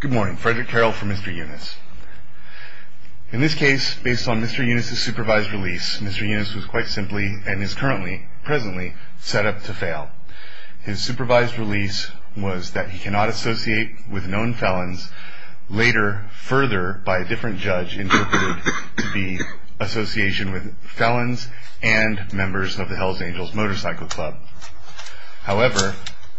Good morning. Frederick Carroll for Mr. Eunice. In this case, based on Mr. Eunice's supervised release, Mr. Eunice was quite simply, and is currently, presently, set up to fail. His supervised release was that he cannot associate with known felons. Later, further, by a different judge, interpreted the association with felons and members of the Hells Angels Motorcycle Club. However,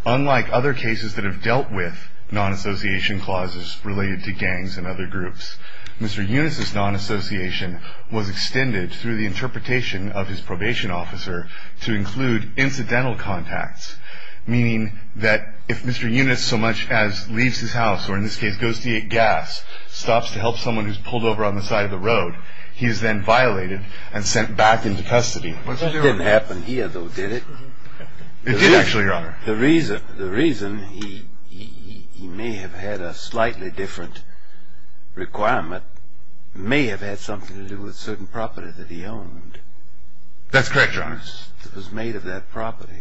unlike other cases that have dealt with non-association clauses related to gangs and other groups, Mr. Eunice's non-association was extended through the interpretation of his probation officer to include incidental contacts, meaning that if Mr. Eunice, so much as leaves his house, or in this case, goes to eat gas, stops to help someone who's pulled over on the side of the road, he is then violated and sent back into custody. It didn't happen here, though, did it? It did, actually, Your Honor. The reason he may have had a slightly different requirement may have had something to do with certain property that he owned. That's correct, Your Honor. It was made of that property.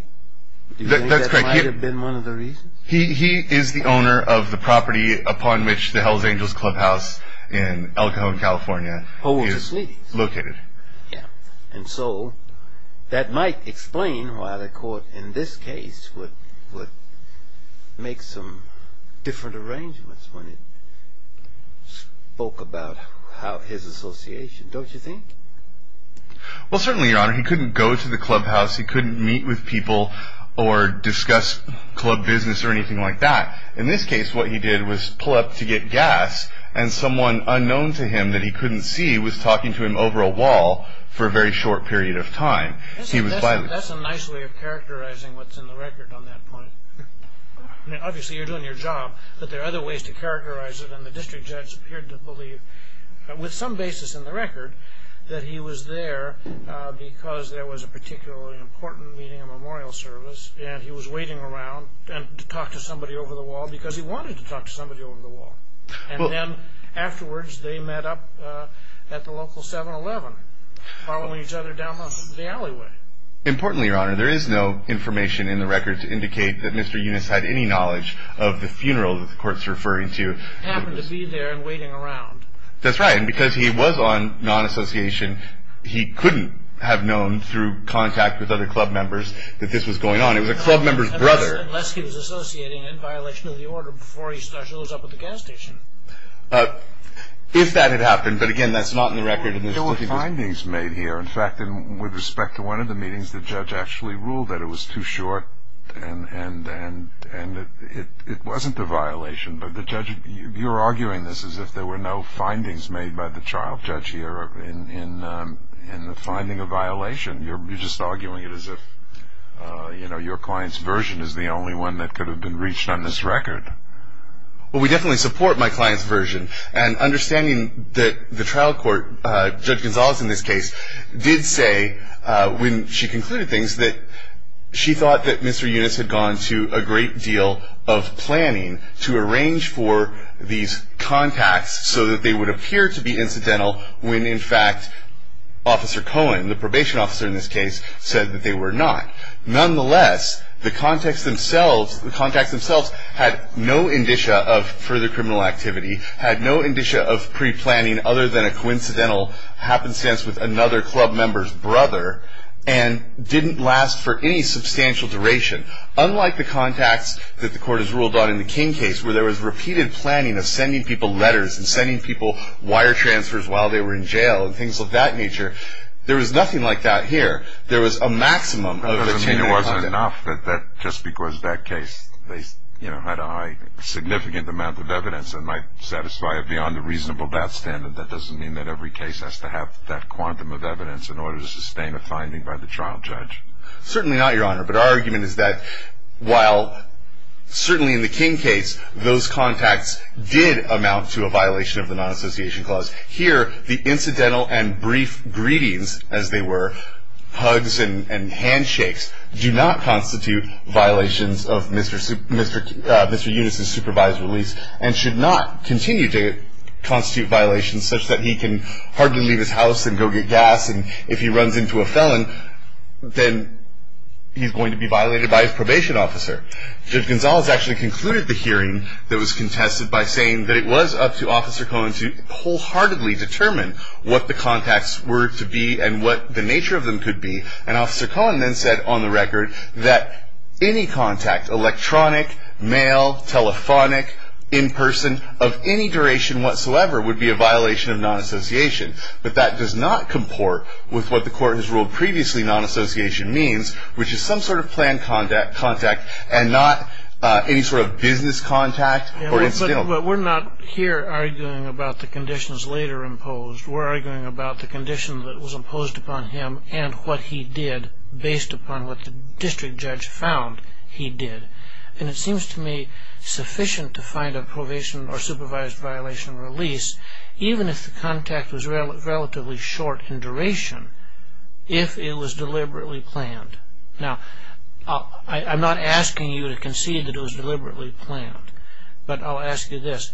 That's correct. Do you think that might have been one of the reasons? He is the owner of the property upon which the Hells Angels Clubhouse in El Cajon, California, is located. Yeah. And so that might explain why the court in this case would make some different arrangements when it spoke about his association, don't you think? Well, certainly, Your Honor. He couldn't go to the clubhouse. He couldn't meet with people or discuss club business or anything like that. In this case, what he did was pull up to get gas, and someone unknown to him that he couldn't see was talking to him over a wall for a very short period of time. He was violated. That's a nice way of characterizing what's in the record on that point. I mean, obviously, you're doing your job, but there are other ways to characterize it, and the district judge appeared to believe, with some basis in the record, that he was there because there was a particularly important meeting, a memorial service, and he was waiting around to talk to somebody over the wall because he wanted to talk to somebody over the wall. And then afterwards, they met up at the local 7-Eleven, following each other down the alleyway. Importantly, Your Honor, there is no information in the record to indicate that Mr. Yunus had any knowledge of the funeral that the court's referring to. He happened to be there and waiting around. That's right, and because he was on non-association, he couldn't have known through contact with other club members that this was going on. It was a club member's brother. Unless he was associating in violation of the order before he shows up at the gas station. If that had happened, but again, that's not in the record. There were findings made here. In fact, with respect to one of the meetings, the judge actually ruled that it was too short, and it wasn't a violation. You're arguing this as if there were no findings made by the trial judge here in the finding of violation. You're just arguing it as if, you know, your client's version is the only one that could have been reached on this record. Well, we definitely support my client's version, and understanding that the trial court, Judge Gonzalez in this case, did say when she concluded things that she thought that Mr. Yunus had gone to a great deal of planning to arrange for these contacts so that they would appear to be incidental, when in fact, Officer Cohen, the probation officer in this case, said that they were not. Nonetheless, the contacts themselves had no indicia of further criminal activity, had no indicia of pre-planning other than a coincidental happenstance with another club member's brother, and didn't last for any substantial duration. Unlike the contacts that the court has ruled on in the King case, where there was repeated planning of sending people letters and sending people wire transfers while they were in jail, and things of that nature, there was nothing like that here. There was a maximum of a two-minute contact. I mean, it wasn't enough that just because that case had a significant amount of evidence that might satisfy it beyond a reasonable death standard, that doesn't mean that every case has to have that quantum of evidence in order to sustain a finding by the trial judge. Certainly not, Your Honor, but our argument is that while, certainly in the King case, those contacts did amount to a violation of the Non-Association Clause, here, the incidental and brief greetings, as they were, hugs and handshakes, do not constitute violations of Mr. Eunice's supervised release, and should not continue to constitute violations such that he can hardly leave his house and go get gas, and if he runs into a felon, then he's going to be violated by his probation officer. Judge Gonzalez actually concluded the hearing that was contested by saying that it was up to Officer Cohen to wholeheartedly determine what the contacts were to be and what the nature of them could be, and Officer Cohen then said on the record that any contact, electronic, mail, telephonic, in person, of any duration whatsoever would be a violation of Non-Association, but that does not comport with what the Court has ruled previously Non-Association means, which is some sort of planned contact and not any sort of business contact or incidental. But we're not here arguing about the conditions later imposed. We're arguing about the condition that was imposed upon him and what he did based upon what the district judge found he did, and it seems to me sufficient to find a probation or supervised violation release even if the contact was relatively short in duration if it was deliberately planned. Now, I'm not asking you to concede that it was deliberately planned, but I'll ask you this.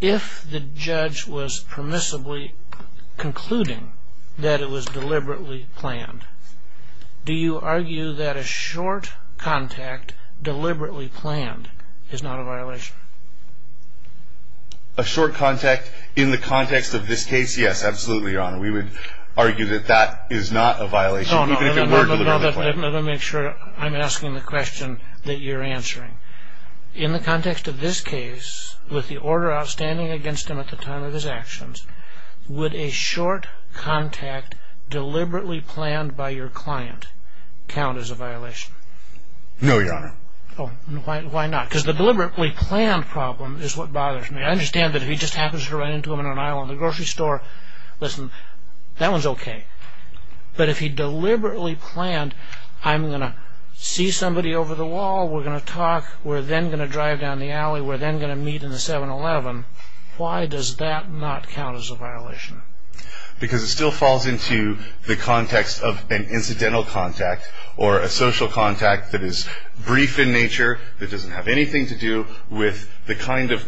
If the judge was permissibly concluding that it was deliberately planned, do you argue that a short contact deliberately planned is not a violation? A short contact in the context of this case, yes, absolutely, Your Honor. We would argue that that is not a violation even if it were deliberately planned. Oh, no, no, no, let me make sure I'm asking the question that you're answering. In the context of this case, with the order outstanding against him at the time of his actions, would a short contact deliberately planned by your client count as a violation? No, Your Honor. Oh, why not? Because the deliberately planned problem is what bothers me. I understand that if he just happens to run into him in an aisle in the grocery store, listen, that one's okay. But if he deliberately planned, I'm going to see somebody over the wall, we're going to talk, we're then going to drive down the alley, we're then going to meet in the 7-Eleven, why does that not count as a violation? Because it still falls into the context of an incidental contact or a social contact that is brief in nature, that doesn't have anything to do with the kind of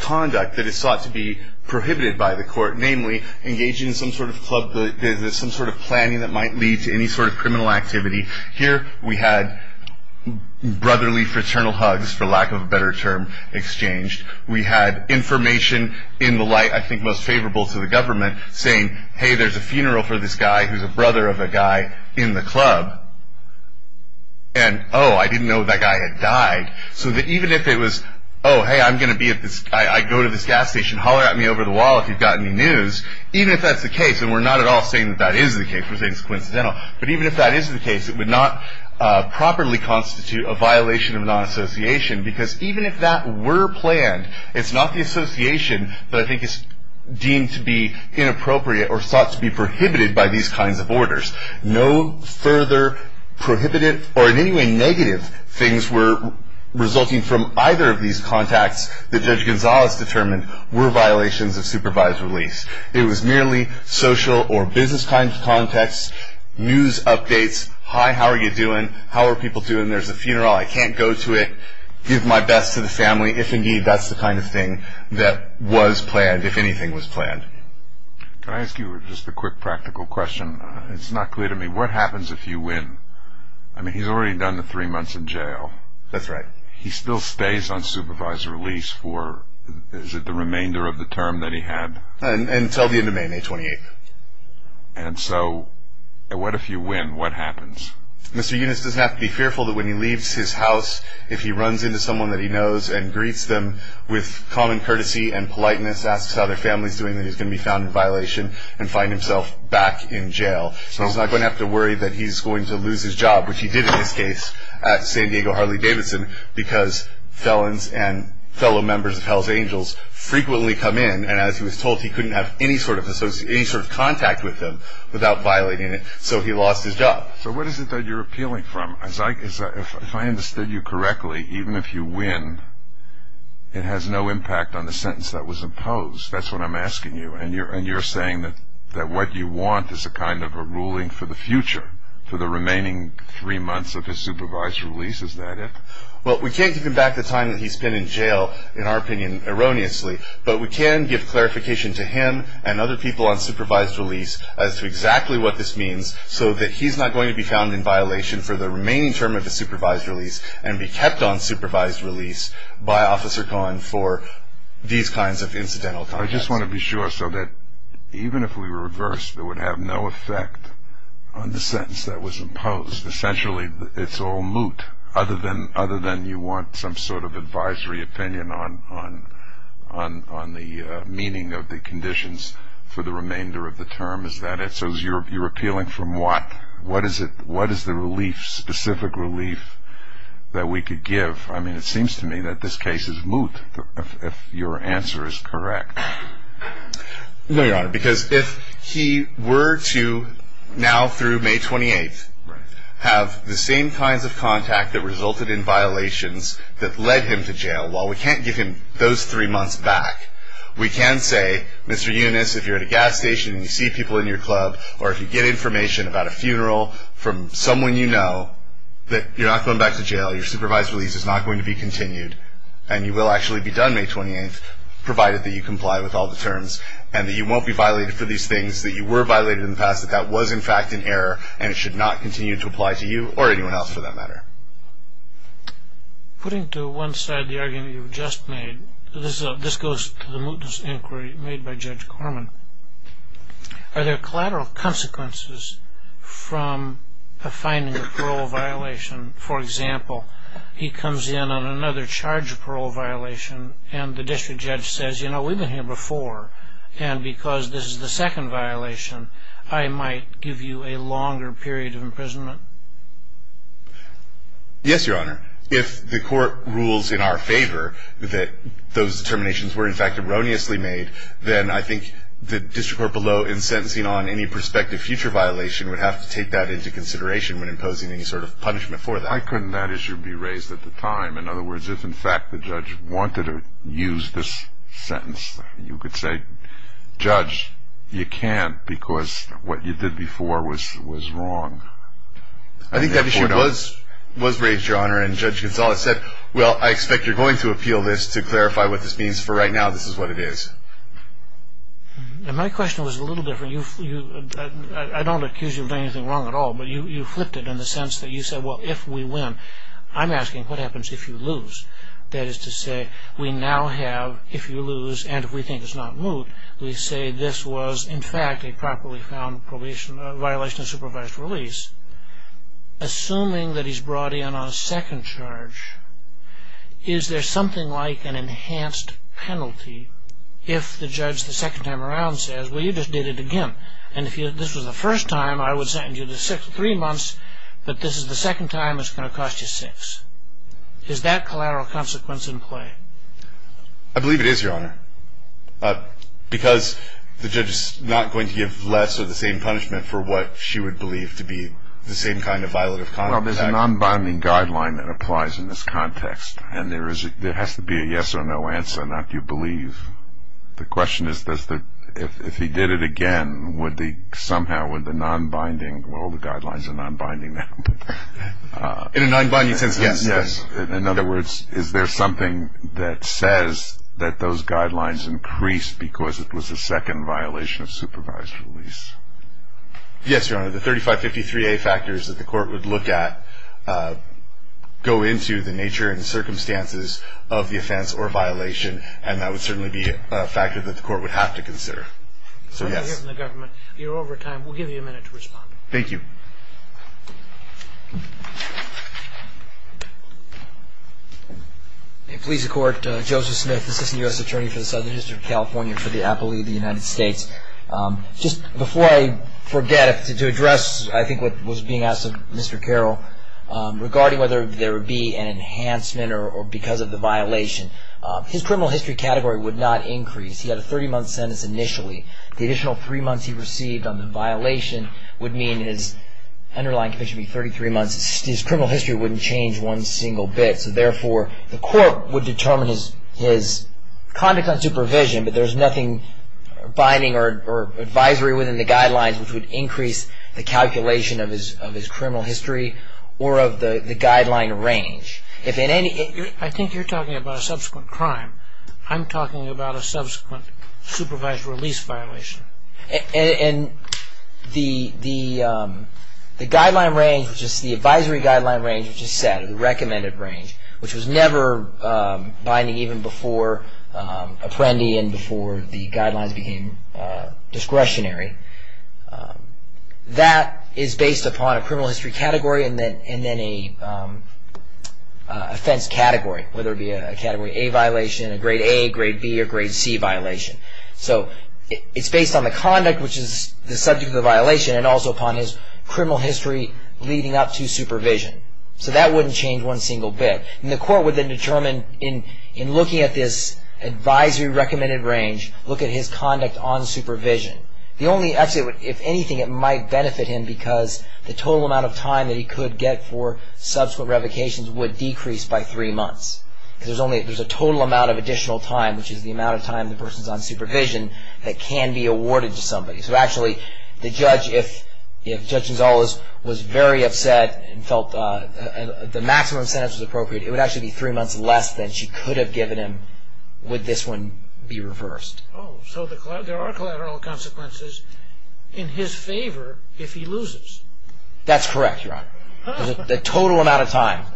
conduct that is sought to be prohibited by the court, namely engaging in some sort of club business, some sort of planning that might lead to any sort of criminal activity. Here we had brotherly fraternal hugs, for lack of a better term, exchanged. We had information in the light I think most favorable to the government saying, hey, there's a funeral for this guy who's a brother of a guy in the club. And oh, I didn't know that guy had died. So that even if it was, oh, hey, I'm going to be at this, I go to this gas station, holler at me over the wall if you've got any news, even if that's the case, and we're not at all saying that that is the case, we're saying it's coincidental, but even if that is the case, it would not properly constitute a violation of non-association because even if that were planned, it's not the association that I think is deemed to be inappropriate or sought to be prohibited by these kinds of orders. No further prohibited or in any way negative things were resulting from either of these contacts that Judge Gonzalez determined were violations of supervised release. It was merely social or business kinds of contacts, news updates, hi, how are you doing, how are people doing, there's a funeral, I can't go to it, give my best to the family, if indeed that's the kind of thing that was planned, if anything was planned. Can I ask you just a quick practical question? It's not clear to me. What happens if you win? I mean, he's already done the three months in jail. That's right. He still stays on supervised release for, is it the remainder of the term that he had? Until the end of May, May 28th. And so what if you win? What happens? Mr. Yunus doesn't have to be fearful that when he leaves his house, if he runs into someone that he knows and greets them with common courtesy and politeness, asks how their family's doing, that he's going to be found in violation and find himself back in jail. So he's not going to have to worry that he's going to lose his job, which he did in this case, at San Diego Harley-Davidson, because felons and fellow members of Hell's Angels frequently come in, and as he was told, he couldn't have any sort of contact with them without violating it, so he lost his job. So what is it that you're appealing from? If I understood you correctly, even if you win, it has no impact on the sentence that was imposed. That's what I'm asking you, and you're saying that what you want is a kind of a ruling for the future, for the remaining three months of his supervised release. Is that it? Well, we can't give him back the time that he spent in jail, in our opinion, erroneously, but we can give clarification to him and other people on supervised release as to exactly what this means so that he's not going to be found in violation for the remaining term of his supervised release and be kept on supervised release by Officer Cohen for these kinds of incidental contacts. I just want to be sure, so that even if we reverse, it would have no effect on the sentence that was imposed. Essentially, it's all moot, other than you want some sort of advisory opinion on the meaning of the conditions for the remainder of the term. Is that it? So you're appealing from what? What is the specific relief that we could give? I mean, it seems to me that this case is moot, if your answer is correct. No, Your Honor, because if he were to, now through May 28th, have the same kinds of contact that resulted in violations that led him to jail, while we can't give him those three months back, we can say, Mr. Yunus, if you're at a gas station and you see people in your club, or if you get information about a funeral from someone you know, that you're not going back to jail, your supervised release is not going to be continued, and you will actually be done May 28th, provided that you comply with all the terms and that you won't be violated for these things, that you were violated in the past, that that was in fact an error and it should not continue to apply to you or anyone else for that matter. Putting to one side the argument you've just made, this goes to the mootness inquiry made by Judge Corman. Are there collateral consequences from a finding of parole violation? For example, he comes in on another charge of parole violation, and the district judge says, you know, we've been here before, and because this is the second violation, I might give you a longer period of imprisonment. Yes, Your Honor. If the court rules in our favor that those determinations were in fact erroneously made, then I think the district court below in sentencing on any prospective future violation would have to take that into consideration when imposing any sort of punishment for that. Why couldn't that issue be raised at the time? In other words, if in fact the judge wanted to use this sentence, you could say, judge, you can't because what you did before was wrong. I think that issue was raised, Your Honor, and Judge Gonzales said, well, I expect you're going to appeal this to clarify what this means. For right now, this is what it is. My question was a little different. I don't accuse you of anything wrong at all, but you flipped it in the sense that you said, well, if we win, I'm asking what happens if you lose. That is to say, we now have, if you lose, and if we think it's not moot, we say this was in fact a properly found violation of supervised release. Assuming that he's brought in on a second charge, is there something like an enhanced penalty if the judge the second time around says, well, you just did it again, and if this was the first time, I would sentence you to three months, but this is the second time, it's going to cost you six. Is that collateral consequence in play? I believe it is, Your Honor, because the judge is not going to give less or the same punishment for what she would believe to be the same kind of violative conduct. Well, there's a nonbinding guideline that applies in this context, and there has to be a yes or no answer, not do you believe. The question is, if he did it again, would the somehow, would the nonbinding, well, the guidelines are nonbinding now. In a nonbinding sense, yes, yes. In other words, is there something that says that those guidelines increase because it was a second violation of supervised release? Yes, Your Honor, the 3553A factors that the court would look at go into the nature and circumstances of the offense or violation, and that would certainly be a factor that the court would have to consider. So, yes. I hear from the government, you're over time, we'll give you a minute to respond. Thank you. May it please the Court, Joseph Smith, Assistant U.S. Attorney for the Southern District of California for the Appellee of the United States. Just before I forget, to address, I think, what was being asked of Mr. Carroll, regarding whether there would be an enhancement or because of the violation, his criminal history category would not increase. He had a 30-month sentence initially. The additional three months he received on the violation would mean his underlying conviction would be 33 months. His criminal history wouldn't change one single bit. So, therefore, the court would determine his conduct on supervision, but there's nothing binding or advisory within the guidelines which would increase the calculation of his criminal history or of the guideline range. I think you're talking about a subsequent crime. I'm talking about a subsequent supervised release violation. And the guideline range, which is the advisory guideline range, which is set, the recommended range, which was never binding even before Apprendi and before the guidelines became discretionary, that is based upon a criminal history category and then an offense category, whether it be a category A violation, a grade A, grade B, or grade C violation. So, it's based on the conduct, which is the subject of the violation, and also upon his criminal history leading up to supervision. So, that wouldn't change one single bit. And the court would then determine, in looking at this advisory recommended range, look at his conduct on supervision. The only, if anything, it might benefit him because the total amount of time that he could get for subsequent revocations would decrease by three months. There's a total amount of additional time, which is the amount of time the person's on supervision, that can be awarded to somebody. So, actually, the judge, if Judge Gonzalez was very upset and felt the maximum sentence was appropriate, it would actually be three months less than she could have given him would this one be reversed. Oh, so there are collateral consequences in his favor if he loses. That's correct, Your Honor. The total amount of time.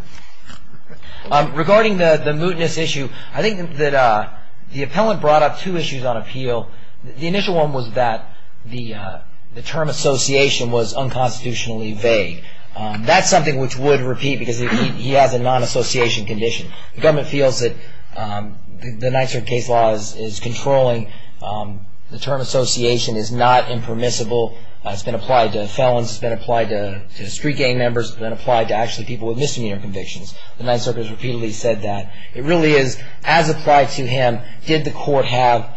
Regarding the mootness issue, I think that the appellant brought up two issues on appeal. The initial one was that the term association was unconstitutionally vague. That's something which would repeat because he has a non-association condition. The government feels that the Ninth Circuit case law is controlling. The term association is not impermissible. It's been applied to felons. It's been applied to street gang members. It's been applied to actually people with misdemeanor convictions. The Ninth Circuit has repeatedly said that. It really is, as applied to him, did the court have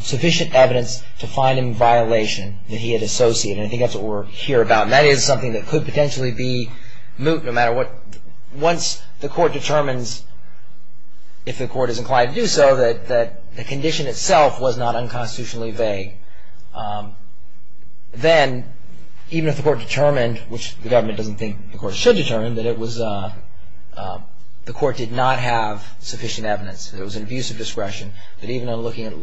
sufficient evidence to find him in violation that he had associated. I think that's what we're here about. And that is something that could potentially be moot no matter what. Once the court determines, if the court is inclined to do so, that the condition itself was not unconstitutionally vague, then even if the court determined, which the government doesn't think the court should determine, that the court did not have sufficient evidence, that it was an abuse of discretion, that even in looking at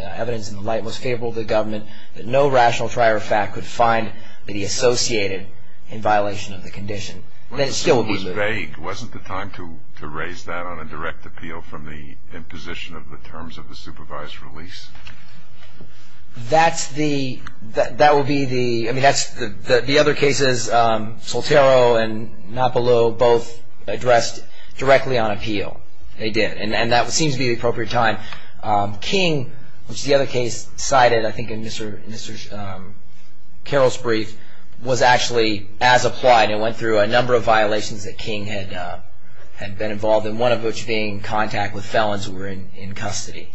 evidence in the light most favorable to the government, that no rational trier of fact could find that he associated in violation of the condition, then it still would be moot. When it was vague, wasn't the time to raise that on a direct appeal from the imposition of the terms of the supervised release? That's the... That would be the... I mean, that's the other cases, Soltero and Napoleau, both addressed directly on appeal. They did. And that seems to be the appropriate time. King, which the other case cited, I think in Mr. Carroll's brief, was actually, as applied, and went through a number of violations that King had been involved in, one of which being contact with felons who were in custody.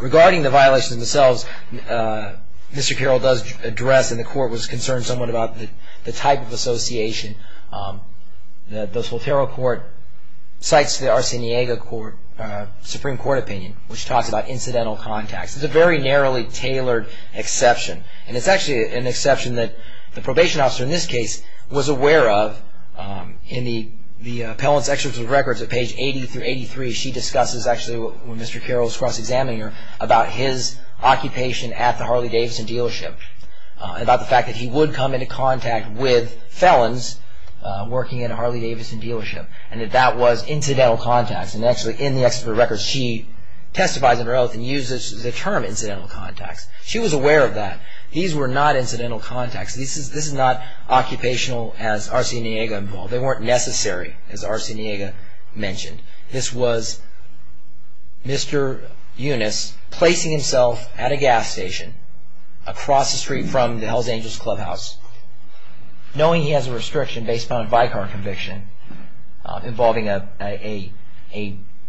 Regarding the violations themselves, Mr. Carroll does address, and the court was concerned somewhat about the type of association that the Soltero court cites to the Arseniega Supreme Court opinion, which talks about incidental contacts. It's a very narrowly tailored exception, and it's actually an exception that the probation officer in this case was aware of In the appellant's excerpt of the records at page 80 through 83, she discusses, actually, when Mr. Carroll was cross-examining her, about his occupation at the Harley-Davidson dealership, and about the fact that he would come into contact with felons working at a Harley-Davidson dealership, and that that was incidental contacts. And actually, in the excerpt of the records, she testifies under oath and uses the term incidental contacts. She was aware of that. These were not incidental contacts. This is not occupational, as Arseniega involved. They weren't necessary, as Arseniega mentioned. This was Mr. Yunus placing himself at a gas station across the street from the Hells Angels Clubhouse, knowing he has a restriction based upon a Vicar conviction involving a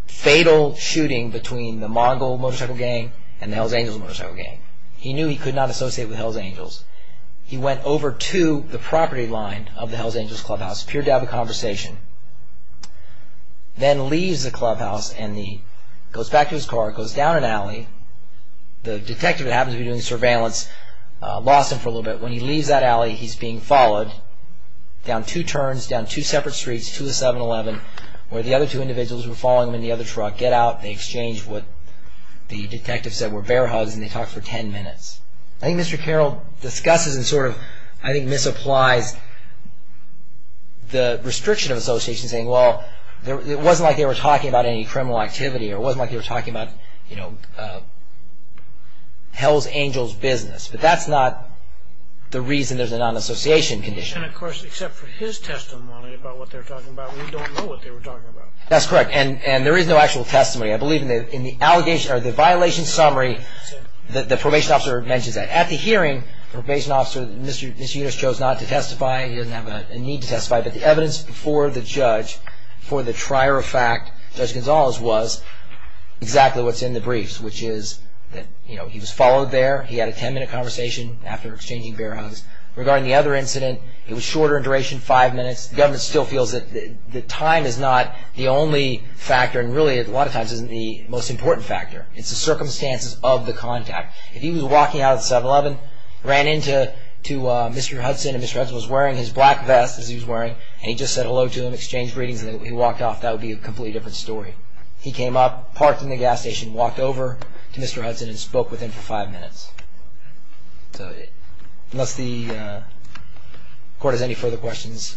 fatal shooting between the Mongol motorcycle gang and the Hells Angels motorcycle gang. He knew he could not associate with Hells Angels. He went over to the property line of the Hells Angels Clubhouse, appeared to have a conversation, then leaves the clubhouse and goes back to his car, goes down an alley. The detective that happens to be doing surveillance lost him for a little bit. When he leaves that alley, he's being followed down two turns, down two separate streets, to the 7-Eleven, where the other two individuals were following him in the other truck. Get out. They exchanged what the detective said were bear hugs, and they talked for ten minutes. I think Mr. Carroll discusses and sort of, I think, misapplies the restriction of association, saying, well, it wasn't like they were talking about any criminal activity, or it wasn't like they were talking about Hells Angels business. But that's not the reason there's a non-association condition. And, of course, except for his testimony about what they were talking about, we don't know what they were talking about. That's correct, and there is no actual testimony. I believe in the violation summary, the probation officer mentions that. At the hearing, the probation officer, Mr. Unis, chose not to testify. He doesn't have a need to testify. But the evidence before the judge, for the trier of fact, Judge Gonzalez, was exactly what's in the briefs, which is that he was followed there. He had a ten-minute conversation after exchanging bear hugs. Regarding the other incident, it was shorter in duration, five minutes. The government still feels that time is not the only factor, and really, a lot of times, isn't the most important factor. It's the circumstances of the contact. If he was walking out of the 7-Eleven, ran into Mr. Hudson, and Mr. Hudson was wearing his black vest, as he was wearing, and he just said hello to him, exchanged greetings, and then he walked off, that would be a completely different story. He came up, parked in the gas station, walked over to Mr. Hudson, and spoke with him for five minutes. Unless the court has any further questions,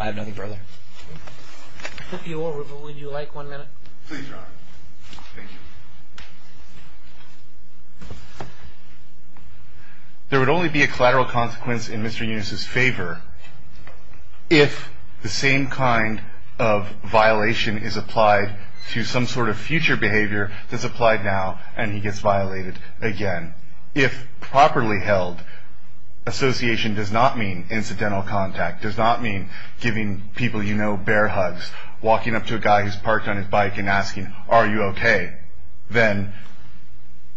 I have nothing further. I took you over, but would you like one minute? Please, Your Honor. Thank you. There would only be a collateral consequence in Mr. Eunice's favor if the same kind of violation is applied to some sort of future behavior that's applied now, and he gets violated again. If properly held, association does not mean incidental contact, does not mean giving people you know bear hugs, walking up to a guy who's parked on his bike and asking, are you okay, then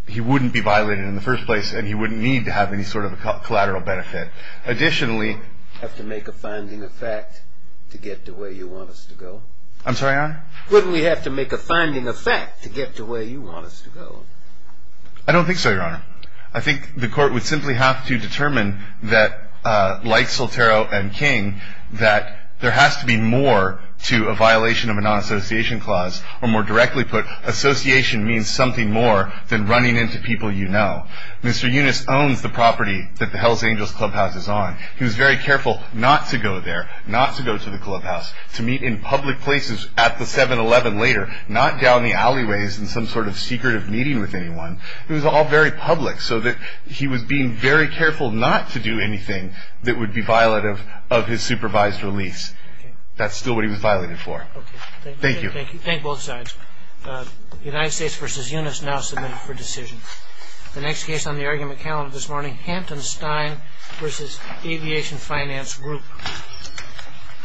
he wouldn't be violated in the first place, and he wouldn't need to have any sort of collateral benefit. Additionally... Wouldn't we have to make a finding of fact to get to where you want us to go? I'm sorry, Your Honor? Wouldn't we have to make a finding of fact to get to where you want us to go? I don't think so, Your Honor. I think the court would simply have to determine that, like Soltero and King, that there has to be more to a violation of a non-association clause, or more directly put, association means something more than running into people you know. Mr. Eunice owns the property that the Hells Angels Clubhouse is on. He was very careful not to go there, not to go to the clubhouse, to meet in public places at the 7-Eleven later, not down the alleyways in some sort of secretive meeting with anyone. It was all very public, so that he was being very careful not to do anything that would be violent of his supervised release. That's still what he was violated for. Thank you. Thank you. Thank both sides. United States v. Eunice now submitted for decision. The next case on the argument calendar this morning, Hantenstein v. Aviation Finance Group.